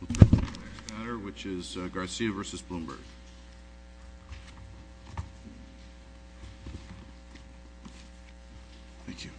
The next matter which is Garcia v. Bloomberg. Thank you.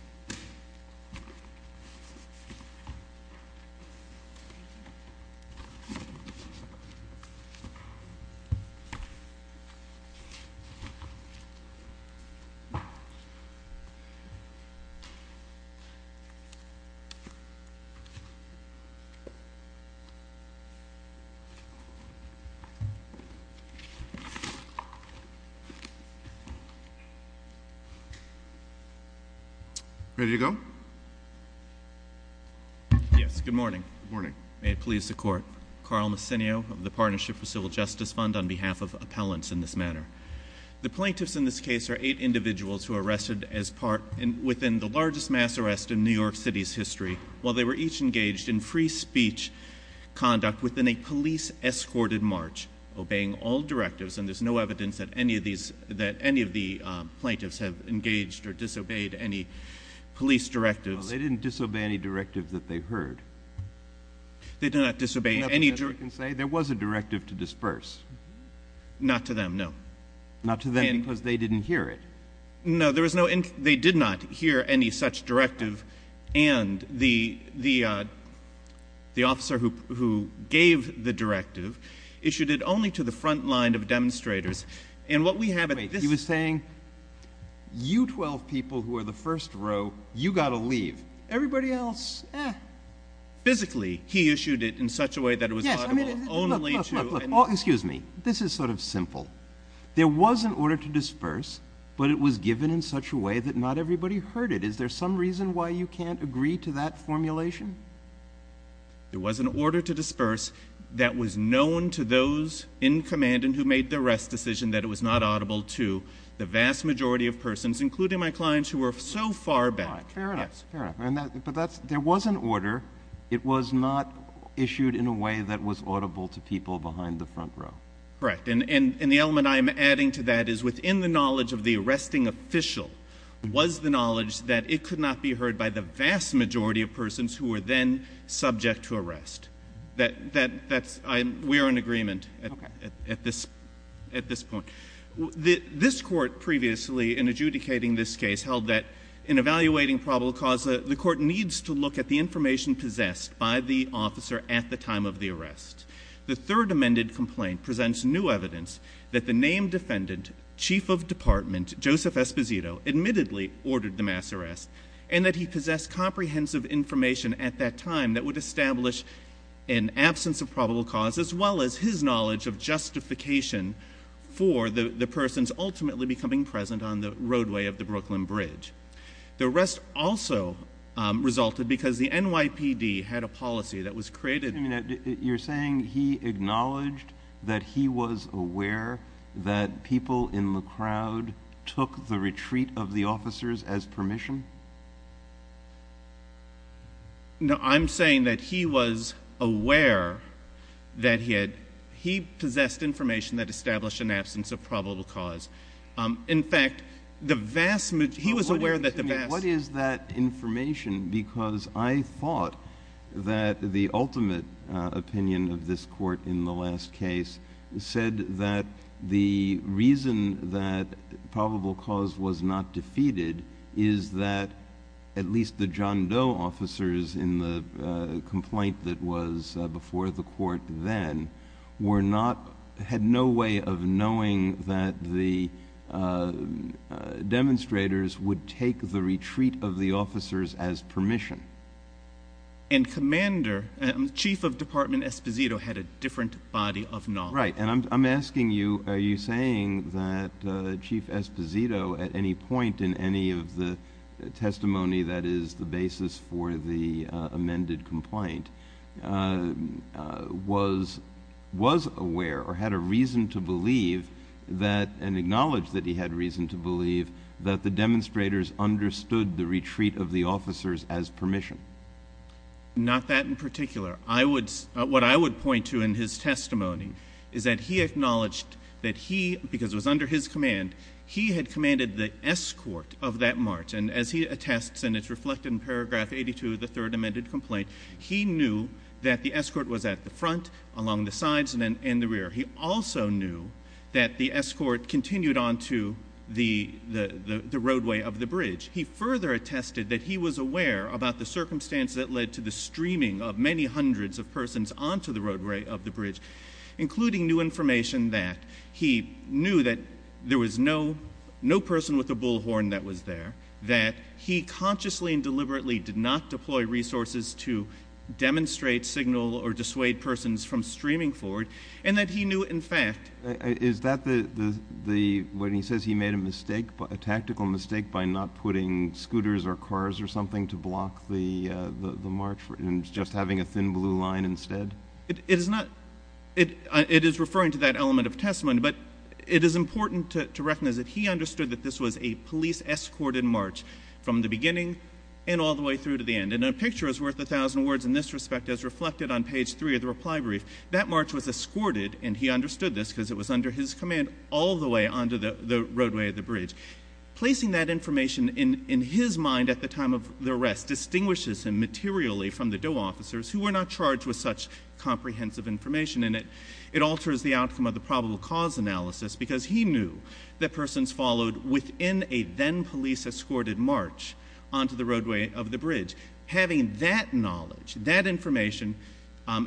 Ready to go? Yes, good morning. Good morning. May it please the court. Carl Messinio of the Partnership for Civil Justice Fund on behalf of appellants in this matter. The plaintiffs in this case are eight individuals who were arrested as part, within the largest mass arrest in New York City's history. While they were each engaged in free speech conduct within a police-escorted march, obeying all directives, and there's no evidence that any of these, that any of the plaintiffs have engaged or disobeyed any police directives. They didn't disobey any directive that they heard. They did not disobey any directive. There was a directive to disperse. Not to them, no. Not to them because they didn't hear it. No, there was no, they did not hear any such directive. And the officer who gave the directive issued it only to the front line of demonstrators. And what we have at this. Wait, he was saying, you 12 people who are the first row, you got to leave. Everybody else, eh. Physically, he issued it in such a way that it was audible only to. Yes, I mean, look, look, excuse me. This is sort of simple. There was an order to disperse, but it was given in such a way that not everybody heard it. Is there some reason why you can't agree to that formulation? There was an order to disperse that was known to those in command and who made the arrest decision that it was not audible to the vast majority of persons, including my clients who were so far back. Fair enough, fair enough. But there was an order. It was not issued in a way that was audible to people behind the front row. Correct. And the element I am adding to that is within the knowledge of the arresting official was the knowledge that it could not be heard by the vast majority of persons who were then subject to arrest. We are in agreement at this point. This court previously, in adjudicating this case, held that in evaluating probable cause, the court needs to look at the information possessed by the officer at the time of the arrest. The third amended complaint presents new evidence that the named defendant, Chief of Department Joseph Esposito, admittedly ordered the mass arrest and that he possessed comprehensive information at that time that would establish an absence of probable cause as well as his knowledge of justification for the persons ultimately becoming present on the roadway of the Brooklyn Bridge. The arrest also resulted because the NYPD had a policy that was created. You're saying he acknowledged that he was aware that people in the crowd took the retreat of the officers as permission? No, I'm saying that he was aware that he possessed information that established an absence of probable cause. In fact, the vast majority—he was aware that the vast— What is that information? Because I thought that the ultimate opinion of this court in the last case said that the reason that probable cause was not defeated is that at least the John Doe officers in the complaint that was before the court then had no way of knowing that the demonstrators would take the retreat of the officers as permission. And Commander—Chief of Department Esposito had a different body of knowledge. Right, and I'm asking you, are you saying that Chief Esposito at any point in any of the testimony that is the basis for the amended complaint was aware or had a reason to believe that— and acknowledged that he had reason to believe that the demonstrators understood the retreat of the officers as permission? Not that in particular. What I would point to in his testimony is that he acknowledged that he—because it was under his command— he had commanded the escort of that march. And as he attests, and it's reflected in paragraph 82 of the third amended complaint, he knew that the escort was at the front, along the sides, and the rear. He also knew that the escort continued onto the roadway of the bridge. He further attested that he was aware about the circumstance that led to the streaming of many hundreds of persons onto the roadway of the bridge, including new information that he knew that there was no person with a bullhorn that was there, that he consciously and deliberately did not deploy resources to demonstrate, signal, or dissuade persons from streaming forward, and that he knew, in fact— Is that the—when he says he made a mistake, a tactical mistake, by not putting scooters or cars or something to block the march and just having a thin blue line instead? It is not—it is referring to that element of testimony, but it is important to recognize that he understood that this was a police-escorted march from the beginning and all the way through to the end. And a picture is worth a thousand words in this respect, as reflected on page 3 of the reply brief. That march was escorted, and he understood this because it was under his command, all the way onto the roadway of the bridge. Placing that information in his mind at the time of the arrest distinguishes him materially from the DOE officers who were not charged with such comprehensive information, and it alters the outcome of the probable cause analysis, because he knew that persons followed within a then-police-escorted march onto the roadway of the bridge. Having that knowledge, that information,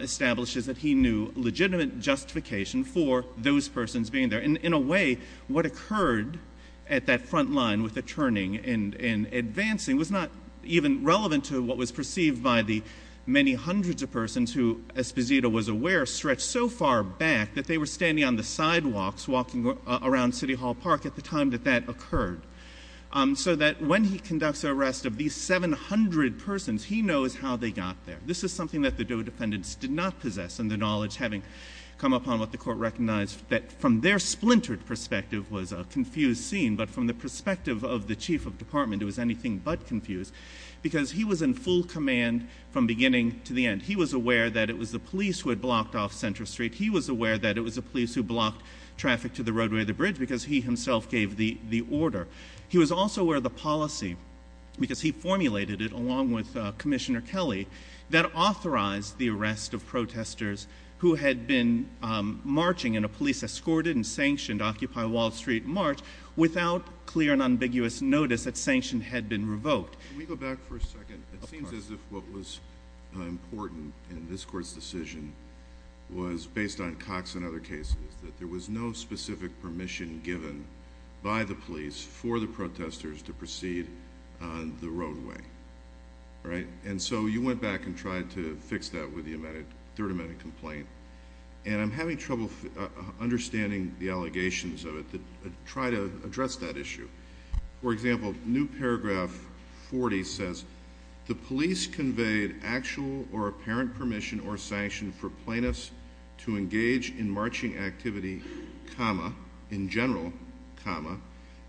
establishes that he knew legitimate justification for those persons being there. And in a way, what occurred at that front line with the turning and advancing was not even relevant to what was perceived by the many hundreds of persons who, as Pazito was aware, stretched so far back that they were standing on the sidewalks walking around City Hall Park at the time that that occurred. So that when he conducts an arrest of these 700 persons, he knows how they got there. This is something that the DOE defendants did not possess, and the knowledge, having come upon what the Court recognized that from their splintered perspective was a confused scene, but from the perspective of the Chief of Department, it was anything but confused, because he was in full command from beginning to the end. He was aware that it was the police who had blocked off Center Street. He was aware that it was the police who blocked traffic to the roadway of the bridge, because he himself gave the order. He was also aware of the policy, because he formulated it along with Commissioner Kelly, that authorized the arrest of protesters who had been marching in a police-escorted and sanctioned Occupy Wall Street march without clear and ambiguous notice that sanction had been revoked. Can we go back for a second? Of course. It seems as if what was important in this Court's decision was, based on Cox and other cases, that there was no specific permission given by the police for the protesters to proceed on the roadway. And so you went back and tried to fix that with the third amendment complaint, and I'm having trouble understanding the allegations of it to try to address that issue. For example, New Paragraph 40 says, The police conveyed actual or apparent permission or sanction for plaintiffs to engage in marching activity, in general,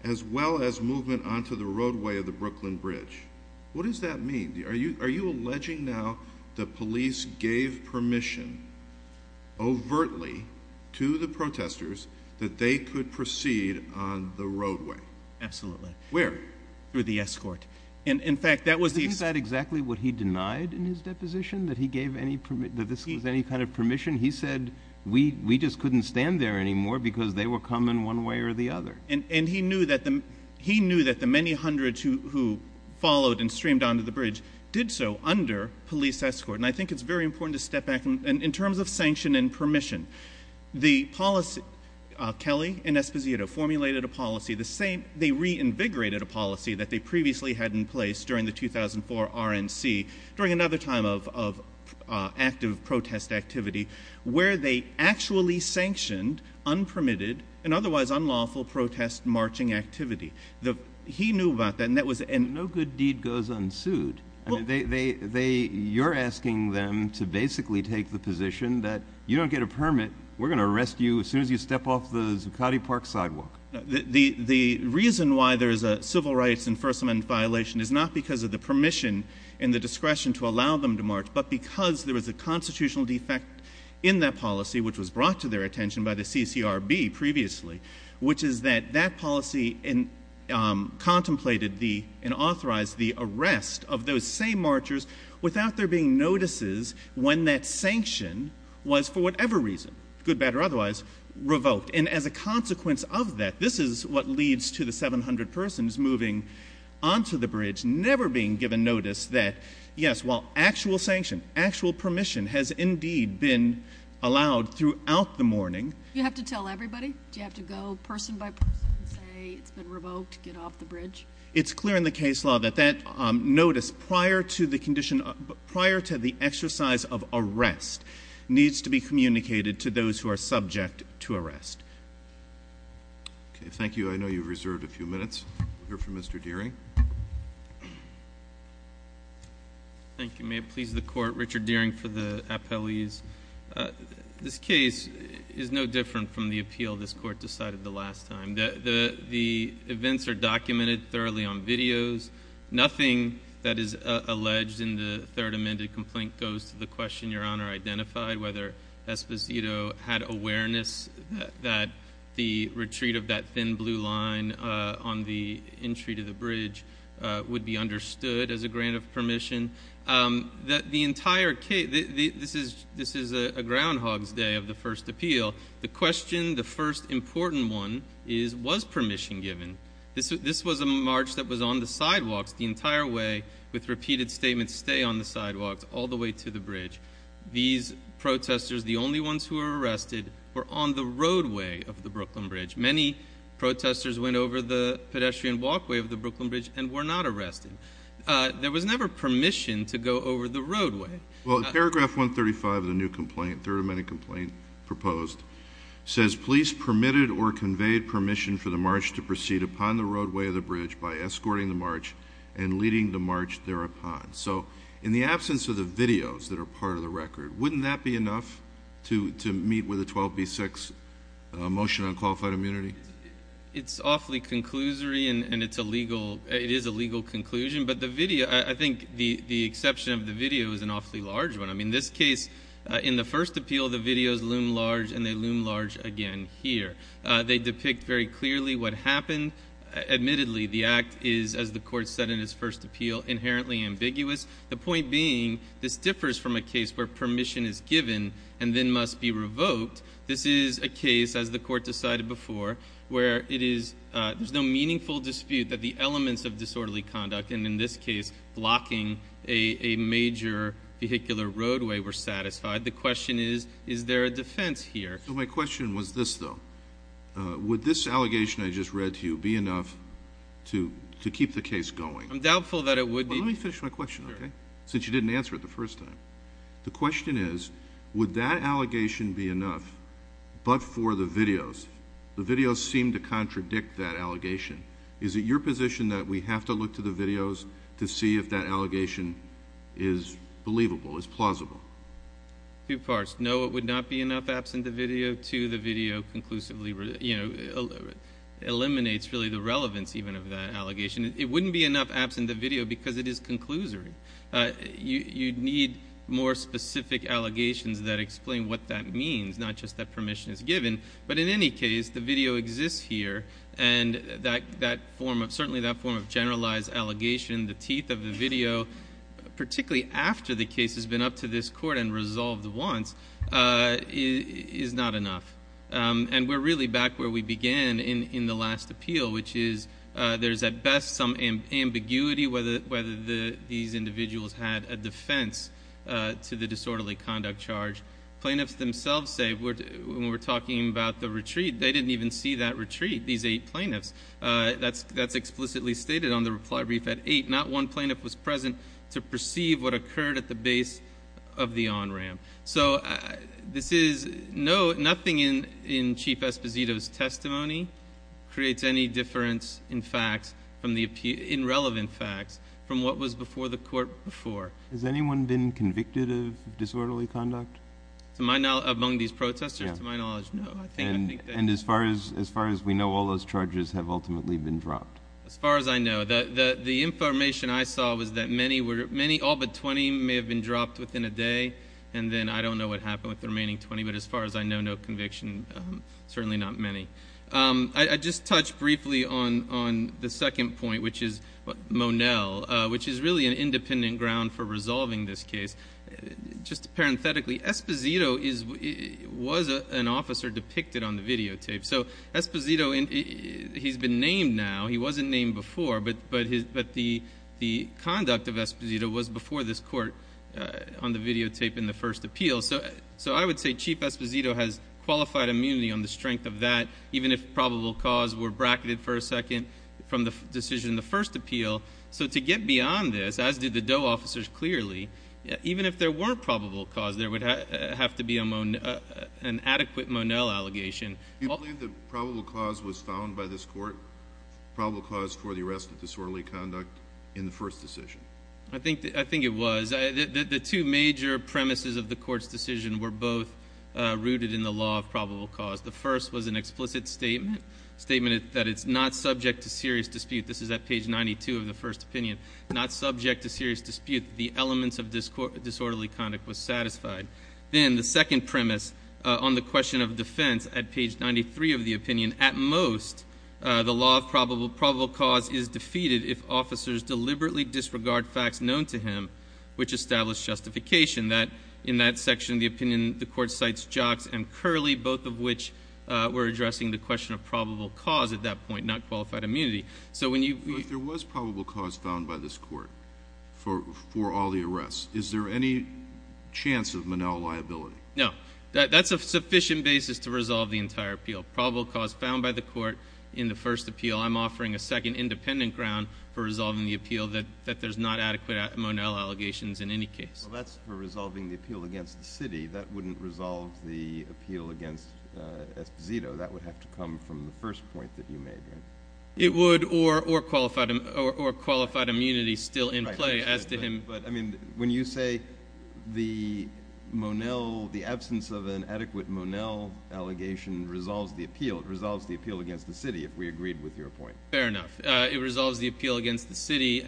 as well as movement onto the roadway of the Brooklyn Bridge. What does that mean? Are you alleging now the police gave permission overtly to the protesters that they could proceed on the roadway? Absolutely. Where? Through the escort. Isn't that exactly what he denied in his deposition, that this was any kind of permission? He said, we just couldn't stand there anymore because they were coming one way or the other. And he knew that the many hundreds who followed and streamed onto the bridge did so under police escort. And I think it's very important to step back. In terms of sanction and permission, Kelly and Esposito formulated a policy, they reinvigorated a policy that they previously had in place during the 2004 RNC, during another time of active protest activity, where they actually sanctioned unpermitted and otherwise unlawful protest marching activity. He knew about that. No good deed goes unsued. You're asking them to basically take the position that you don't get a permit, we're going to arrest you as soon as you step off the Zuccotti Park sidewalk. The reason why there is a civil rights and First Amendment violation is not because of the permission and the discretion to allow them to march, but because there is a constitutional defect in that policy, which was brought to their attention by the CCRB previously, which is that that policy contemplated and authorized the arrest of those same marchers without there being notices when that sanction was, for whatever reason, good, bad, or otherwise, revoked. And as a consequence of that, this is what leads to the 700 persons moving onto the bridge, never being given notice that, yes, while actual sanction, actual permission, has indeed been allowed throughout the morning. Do you have to tell everybody? Do you have to go person by person and say it's been revoked, get off the bridge? It's clear in the case law that that notice prior to the condition, prior to the exercise of arrest needs to be communicated to those who are subject to arrest. Okay, thank you. I know you've reserved a few minutes. We'll hear from Mr. Deering. Thank you. May it please the Court, Richard Deering for the appellees. This case is no different from the appeal this Court decided the last time. The events are documented thoroughly on videos. Nothing that is alleged in the third amended complaint goes to the question Your Honor identified, whether Esposito had awareness that the retreat of that thin blue line on the entry to the bridge would be understood as a grant of permission. This is a groundhog's day of the first appeal. The question, the first important one, was permission given? This was a march that was on the sidewalks the entire way, with repeated statements, stay on the sidewalks all the way to the bridge. These protesters, the only ones who were arrested, were on the roadway of the Brooklyn Bridge. Many protesters went over the pedestrian walkway of the Brooklyn Bridge and were not arrested. There was never permission to go over the roadway. Well, paragraph 135 of the new complaint, third amended complaint proposed, says police permitted or conveyed permission for the march to proceed upon the roadway of the bridge by escorting the march and leading the march thereupon. So in the absence of the videos that are part of the record, wouldn't that be enough to meet with a 12b-6 motion on qualified immunity? It's awfully conclusory, and it is a legal conclusion, but I think the exception of the video is an awfully large one. In this case, in the first appeal, the videos loom large, and they loom large again here. They depict very clearly what happened. Admittedly, the act is, as the court said in its first appeal, inherently ambiguous, the point being this differs from a case where permission is given and then must be revoked. This is a case, as the court decided before, where there's no meaningful dispute that the elements of disorderly conduct, and in this case blocking a major vehicular roadway, were satisfied. The question is, is there a defense here? My question was this, though. Would this allegation I just read to you be enough to keep the case going? I'm doubtful that it would be. Let me finish my question, okay, since you didn't answer it the first time. The question is, would that allegation be enough but for the videos? The videos seem to contradict that allegation. Is it your position that we have to look to the videos to see if that allegation is believable, is plausible? Two parts. No, it would not be enough absent the video. Two, the video conclusively eliminates really the relevance even of that allegation. It wouldn't be enough absent the video because it is conclusory. You'd need more specific allegations that explain what that means, not just that permission is given. But in any case, the video exists here, and certainly that form of generalized allegation, the teeth of the video, particularly after the case has been up to this court and resolved once, is not enough. And we're really back where we began in the last appeal, which is there's at best some ambiguity whether these individuals had a defense to the disorderly conduct charge. Plaintiffs themselves say, when we're talking about the retreat, they didn't even see that retreat, these eight plaintiffs. That's explicitly stated on the reply brief at 8. Not one plaintiff was present to perceive what occurred at the base of the on-ramp. So this is nothing in Chief Esposito's testimony creates any difference in fact, in relevant facts, from what was before the court before. Has anyone been convicted of disorderly conduct? To my knowledge, among these protesters? Yeah. To my knowledge, no. And as far as we know, all those charges have ultimately been dropped? As far as I know. The information I saw was that many, all but 20, may have been dropped within a day. And then I don't know what happened with the remaining 20, but as far as I know, no conviction, certainly not many. I'd just touch briefly on the second point, which is Monell, which is really an independent ground for resolving this case. Just parenthetically, Esposito was an officer depicted on the videotape. So Esposito, he's been named now. He wasn't named before, but the conduct of Esposito was before this court on the videotape in the first appeal. So I would say Chief Esposito has qualified immunity on the strength of that, even if probable cause were bracketed for a second from the decision in the first appeal. So to get beyond this, as did the Doe officers clearly, even if there were probable cause, there would have to be an adequate Monell allegation. Do you believe that probable cause was found by this court, probable cause for the arrest of disorderly conduct in the first decision? I think it was. The two major premises of the court's decision were both rooted in the law of probable cause. The first was an explicit statement, a statement that it's not subject to serious dispute. This is at page 92 of the first opinion, not subject to serious dispute. The elements of disorderly conduct was satisfied. Then the second premise on the question of defense at page 93 of the opinion, at most the law of probable cause is defeated if officers deliberately disregard facts known to him, which establish justification that in that section of the opinion, the court cites Jocks and Curley, both of which were addressing the question of probable cause at that point, not qualified immunity. But there was probable cause found by this court for all the arrests. Is there any chance of Monell liability? No. That's a sufficient basis to resolve the entire appeal, probable cause found by the court in the first appeal. I'm offering a second independent ground for resolving the appeal that there's not adequate Monell allegations in any case. Well, that's for resolving the appeal against the city. That wouldn't resolve the appeal against Esposito. That would have to come from the first point that you made, right? It would or qualified immunity still in play as to him. But, I mean, when you say the Monell, the absence of an adequate Monell allegation resolves the appeal, it resolves the appeal against the city if we agreed with your point. Fair enough. It resolves the appeal against the city,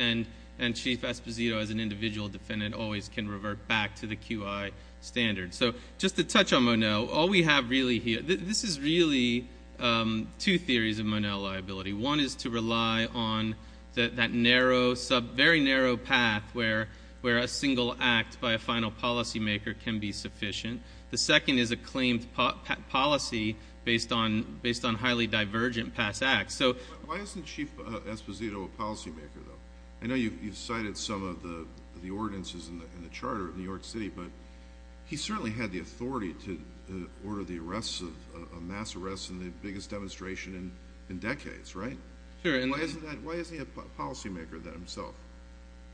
and Chief Esposito as an individual defendant always can revert back to the QI standard. So just to touch on Monell, all we have really here, this is really two theories of Monell liability. One is to rely on that narrow, very narrow path where a single act by a final policymaker can be sufficient. The second is a claimed policy based on highly divergent past acts. Why isn't Chief Esposito a policymaker, though? I know you've cited some of the ordinances in the charter of New York City, but he certainly had the authority to order the arrests, mass arrests, and the biggest demonstration in decades, right? Sure. Why isn't he a policymaker of that himself?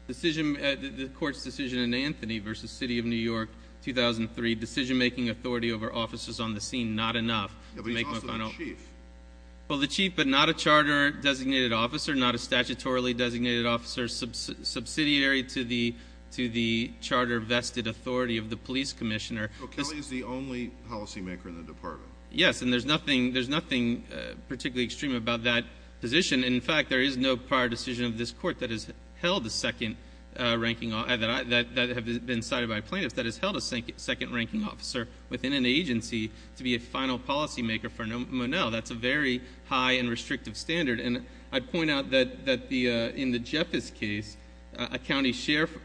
The court's decision in Anthony v. City of New York, 2003, decision-making authority over officers on the scene, not enough to make Monell. Yeah, but he's also the chief. Well, the chief, but not a charter designated officer, not a statutorily designated officer subsidiary to the charter vested authority of the police commissioner. So Kelly is the only policymaker in the department? Yes, and there's nothing particularly extreme about that position. In fact, there is no prior decision of this court that has held a second ranking officer, that have been cited by plaintiffs, that has held a second ranking officer within an agency to be a final policymaker for Monell. That's a very high and restrictive standard. And I'd point out that in the Jeffers case, a county sheriff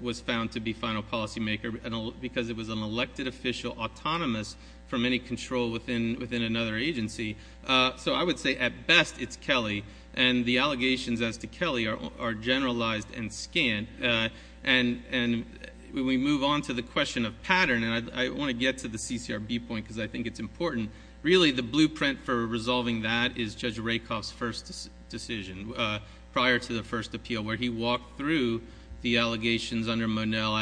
was found to be final policymaker, because it was an elected official autonomous from any control within another agency. So I would say, at best, it's Kelly. And the allegations as to Kelly are generalized and scanned. And we move on to the question of pattern. And I want to get to the CCRB point because I think it's important. And really, the blueprint for resolving that is Judge Rakoff's first decision, prior to the first appeal, where he walked through the allegations under Monell,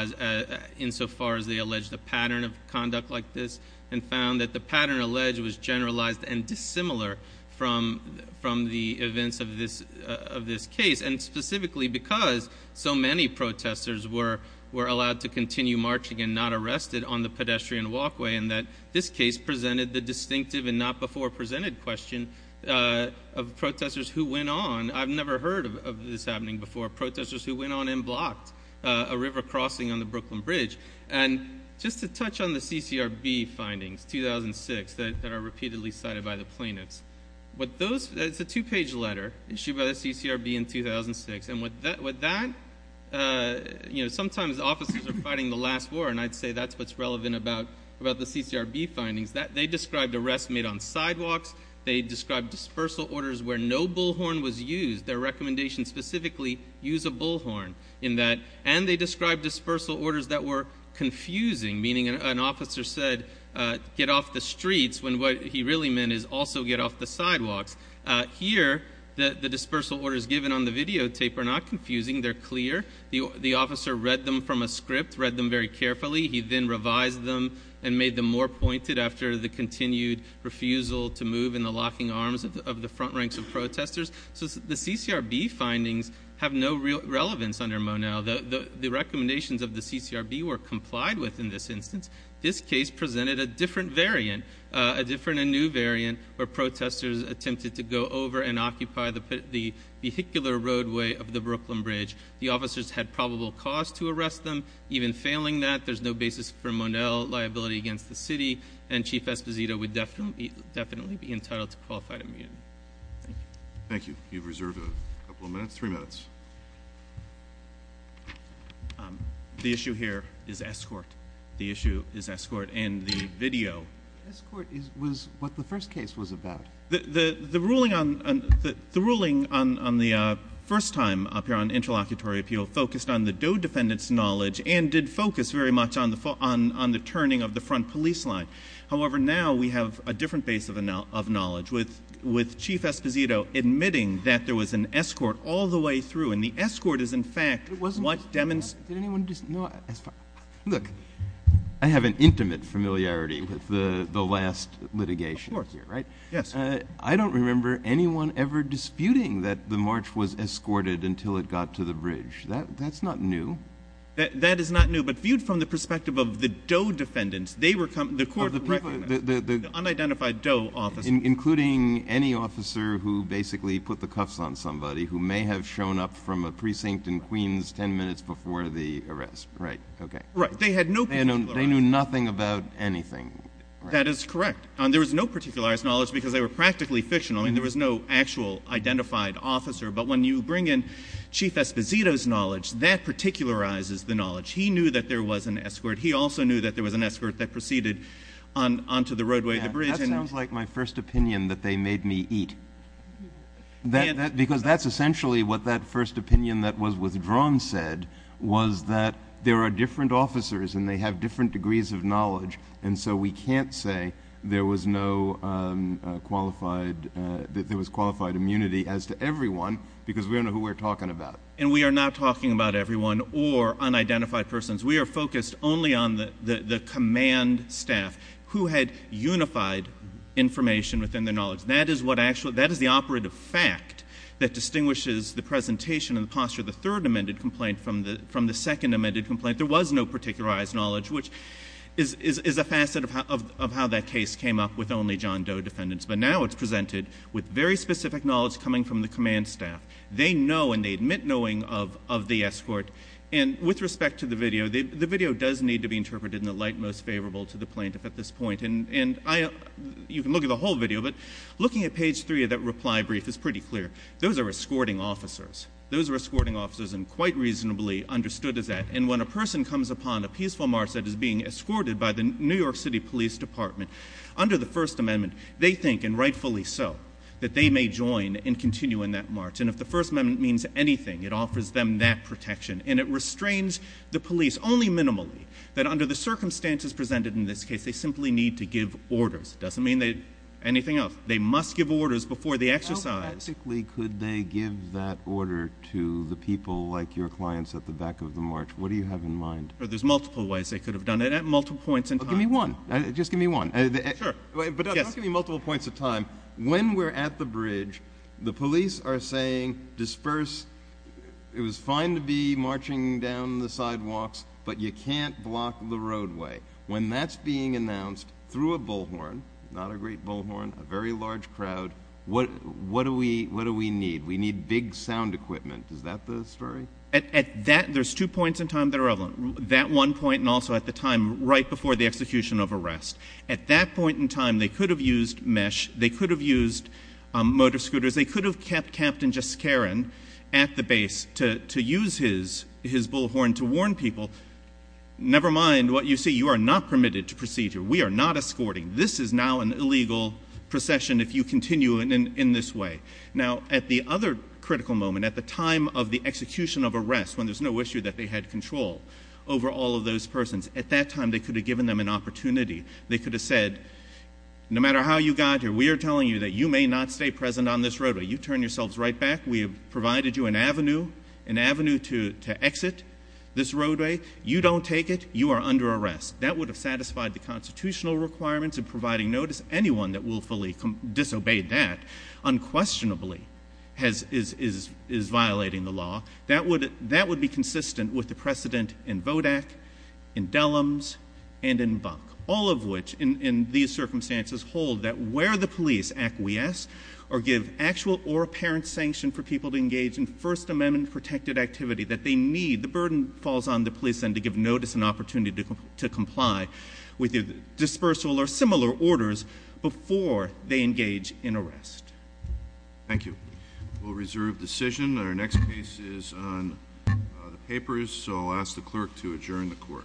insofar as they alleged a pattern of conduct like this, and found that the pattern alleged was generalized and dissimilar from the events of this case. And specifically because so many protesters were allowed to continue marching and not arrested on the pedestrian walkway, and that this case presented the distinctive and not before presented question of protesters who went on. I've never heard of this happening before, protesters who went on and blocked a river crossing on the Brooklyn Bridge. And just to touch on the CCRB findings, 2006, that are repeatedly cited by the plaintiffs. It's a two-page letter issued by the CCRB in 2006. And with that, you know, sometimes officers are fighting the last war, and I'd say that's what's relevant about the CCRB findings. They described arrests made on sidewalks. They described dispersal orders where no bullhorn was used. Their recommendation specifically, use a bullhorn in that. And they described dispersal orders that were confusing, meaning an officer said, get off the streets, when what he really meant is also get off the sidewalks. Here, the dispersal orders given on the videotape are not confusing. They're clear. The officer read them from a script, read them very carefully. He then revised them and made them more pointed after the continued refusal to move in the locking arms of the front ranks of protesters. So the CCRB findings have no real relevance under Monell. The recommendations of the CCRB were complied with in this instance. This case presented a different variant, a different and new variant, where protesters attempted to go over and occupy the vehicular roadway of the Brooklyn Bridge. The officers had probable cause to arrest them. Even failing that, there's no basis for Monell liability against the city, and Chief Esposito would definitely be entitled to qualified immunity. Thank you. Thank you. You've reserved a couple of minutes, three minutes. The issue here is escort. The issue is escort and the video. Escort was what the first case was about. The ruling on the first time up here on interlocutory appeal focused on the DOE defendant's knowledge and did focus very much on the turning of the front police line. However, now we have a different base of knowledge, with Chief Esposito admitting that there was an escort all the way through, and the escort is, in fact, what demonstrated. Look, I have an intimate familiarity with the last litigation here, right? Yes. I don't remember anyone ever disputing that the march was escorted until it got to the bridge. That's not new. That is not new, but viewed from the perspective of the DOE defendants, the court recognized the unidentified DOE officer. Including any officer who basically put the cuffs on somebody who may have shown up from a precinct in Queens 10 minutes before the arrest. Right. Okay. Right. They knew nothing about anything. That is correct. There was no particularized knowledge because they were practically fictional, and there was no actual identified officer. But when you bring in Chief Esposito's knowledge, that particularizes the knowledge. He knew that there was an escort. He also knew that there was an escort that proceeded onto the roadway, the bridge. That sounds like my first opinion, that they made me eat. Because that's essentially what that first opinion that was withdrawn said, was that there are different officers and they have different degrees of knowledge, and so we can't say there was no qualified immunity as to everyone because we don't know who we're talking about. And we are not talking about everyone or unidentified persons. We are focused only on the command staff who had unified information within their knowledge. That is the operative fact that distinguishes the presentation and the posture of the third amended complaint from the second amended complaint. There was no particularized knowledge, which is a facet of how that case came up with only John Doe defendants. But now it's presented with very specific knowledge coming from the command staff. They know and they admit knowing of the escort. And with respect to the video, the video does need to be interpreted in the light most favorable to the plaintiff at this point. And you can look at the whole video, but looking at page three of that reply brief is pretty clear. Those are escorting officers. Those are escorting officers and quite reasonably understood as that. And when a person comes upon a peaceful march that is being escorted by the New York City Police Department, under the First Amendment, they think, and rightfully so, that they may join and continue in that march. And if the First Amendment means anything, it offers them that protection. And it restrains the police only minimally that under the circumstances presented in this case, they simply need to give orders. It doesn't mean anything else. They must give orders before the exercise. How practically could they give that order to the people like your clients at the back of the march? What do you have in mind? There's multiple ways they could have done it at multiple points in time. Give me one. Just give me one. Sure. But don't give me multiple points of time. When we're at the bridge, the police are saying, disperse. It was fine to be marching down the sidewalks, but you can't block the roadway. When that's being announced through a bullhorn, not a great bullhorn, a very large crowd, what do we need? We need big sound equipment. Is that the story? There's two points in time that are relevant. That one point and also at the time right before the execution of arrest. At that point in time, they could have used mesh. They could have used motor scooters. They could have kept Captain Jaskarin at the base to use his bullhorn to warn people, never mind what you see. You are not permitted to proceed here. We are not escorting. This is now an illegal procession if you continue in this way. Now, at the other critical moment, at the time of the execution of arrest, when there's no issue that they had control over all of those persons, at that time they could have given them an opportunity. They could have said, no matter how you got here, we are telling you that you may not stay present on this roadway. You turn yourselves right back. We have provided you an avenue, an avenue to exit this roadway. You don't take it. You are under arrest. That would have satisfied the constitutional requirements of providing notice. Anyone that willfully disobeyed that unquestionably is violating the law. That would be consistent with the precedent in VODAC, in Dellums, and in Buck, all of which in these circumstances hold that where the police acquiesce or give actual or apparent sanction for people to engage in First Amendment protected activity that they need, the burden falls on the police then to give notice and opportunity to comply with dispersal or similar orders before they engage in arrest. Thank you. We'll reserve decision. Our next case is on the papers, so I'll ask the clerk to adjourn the court. Court is adjourned.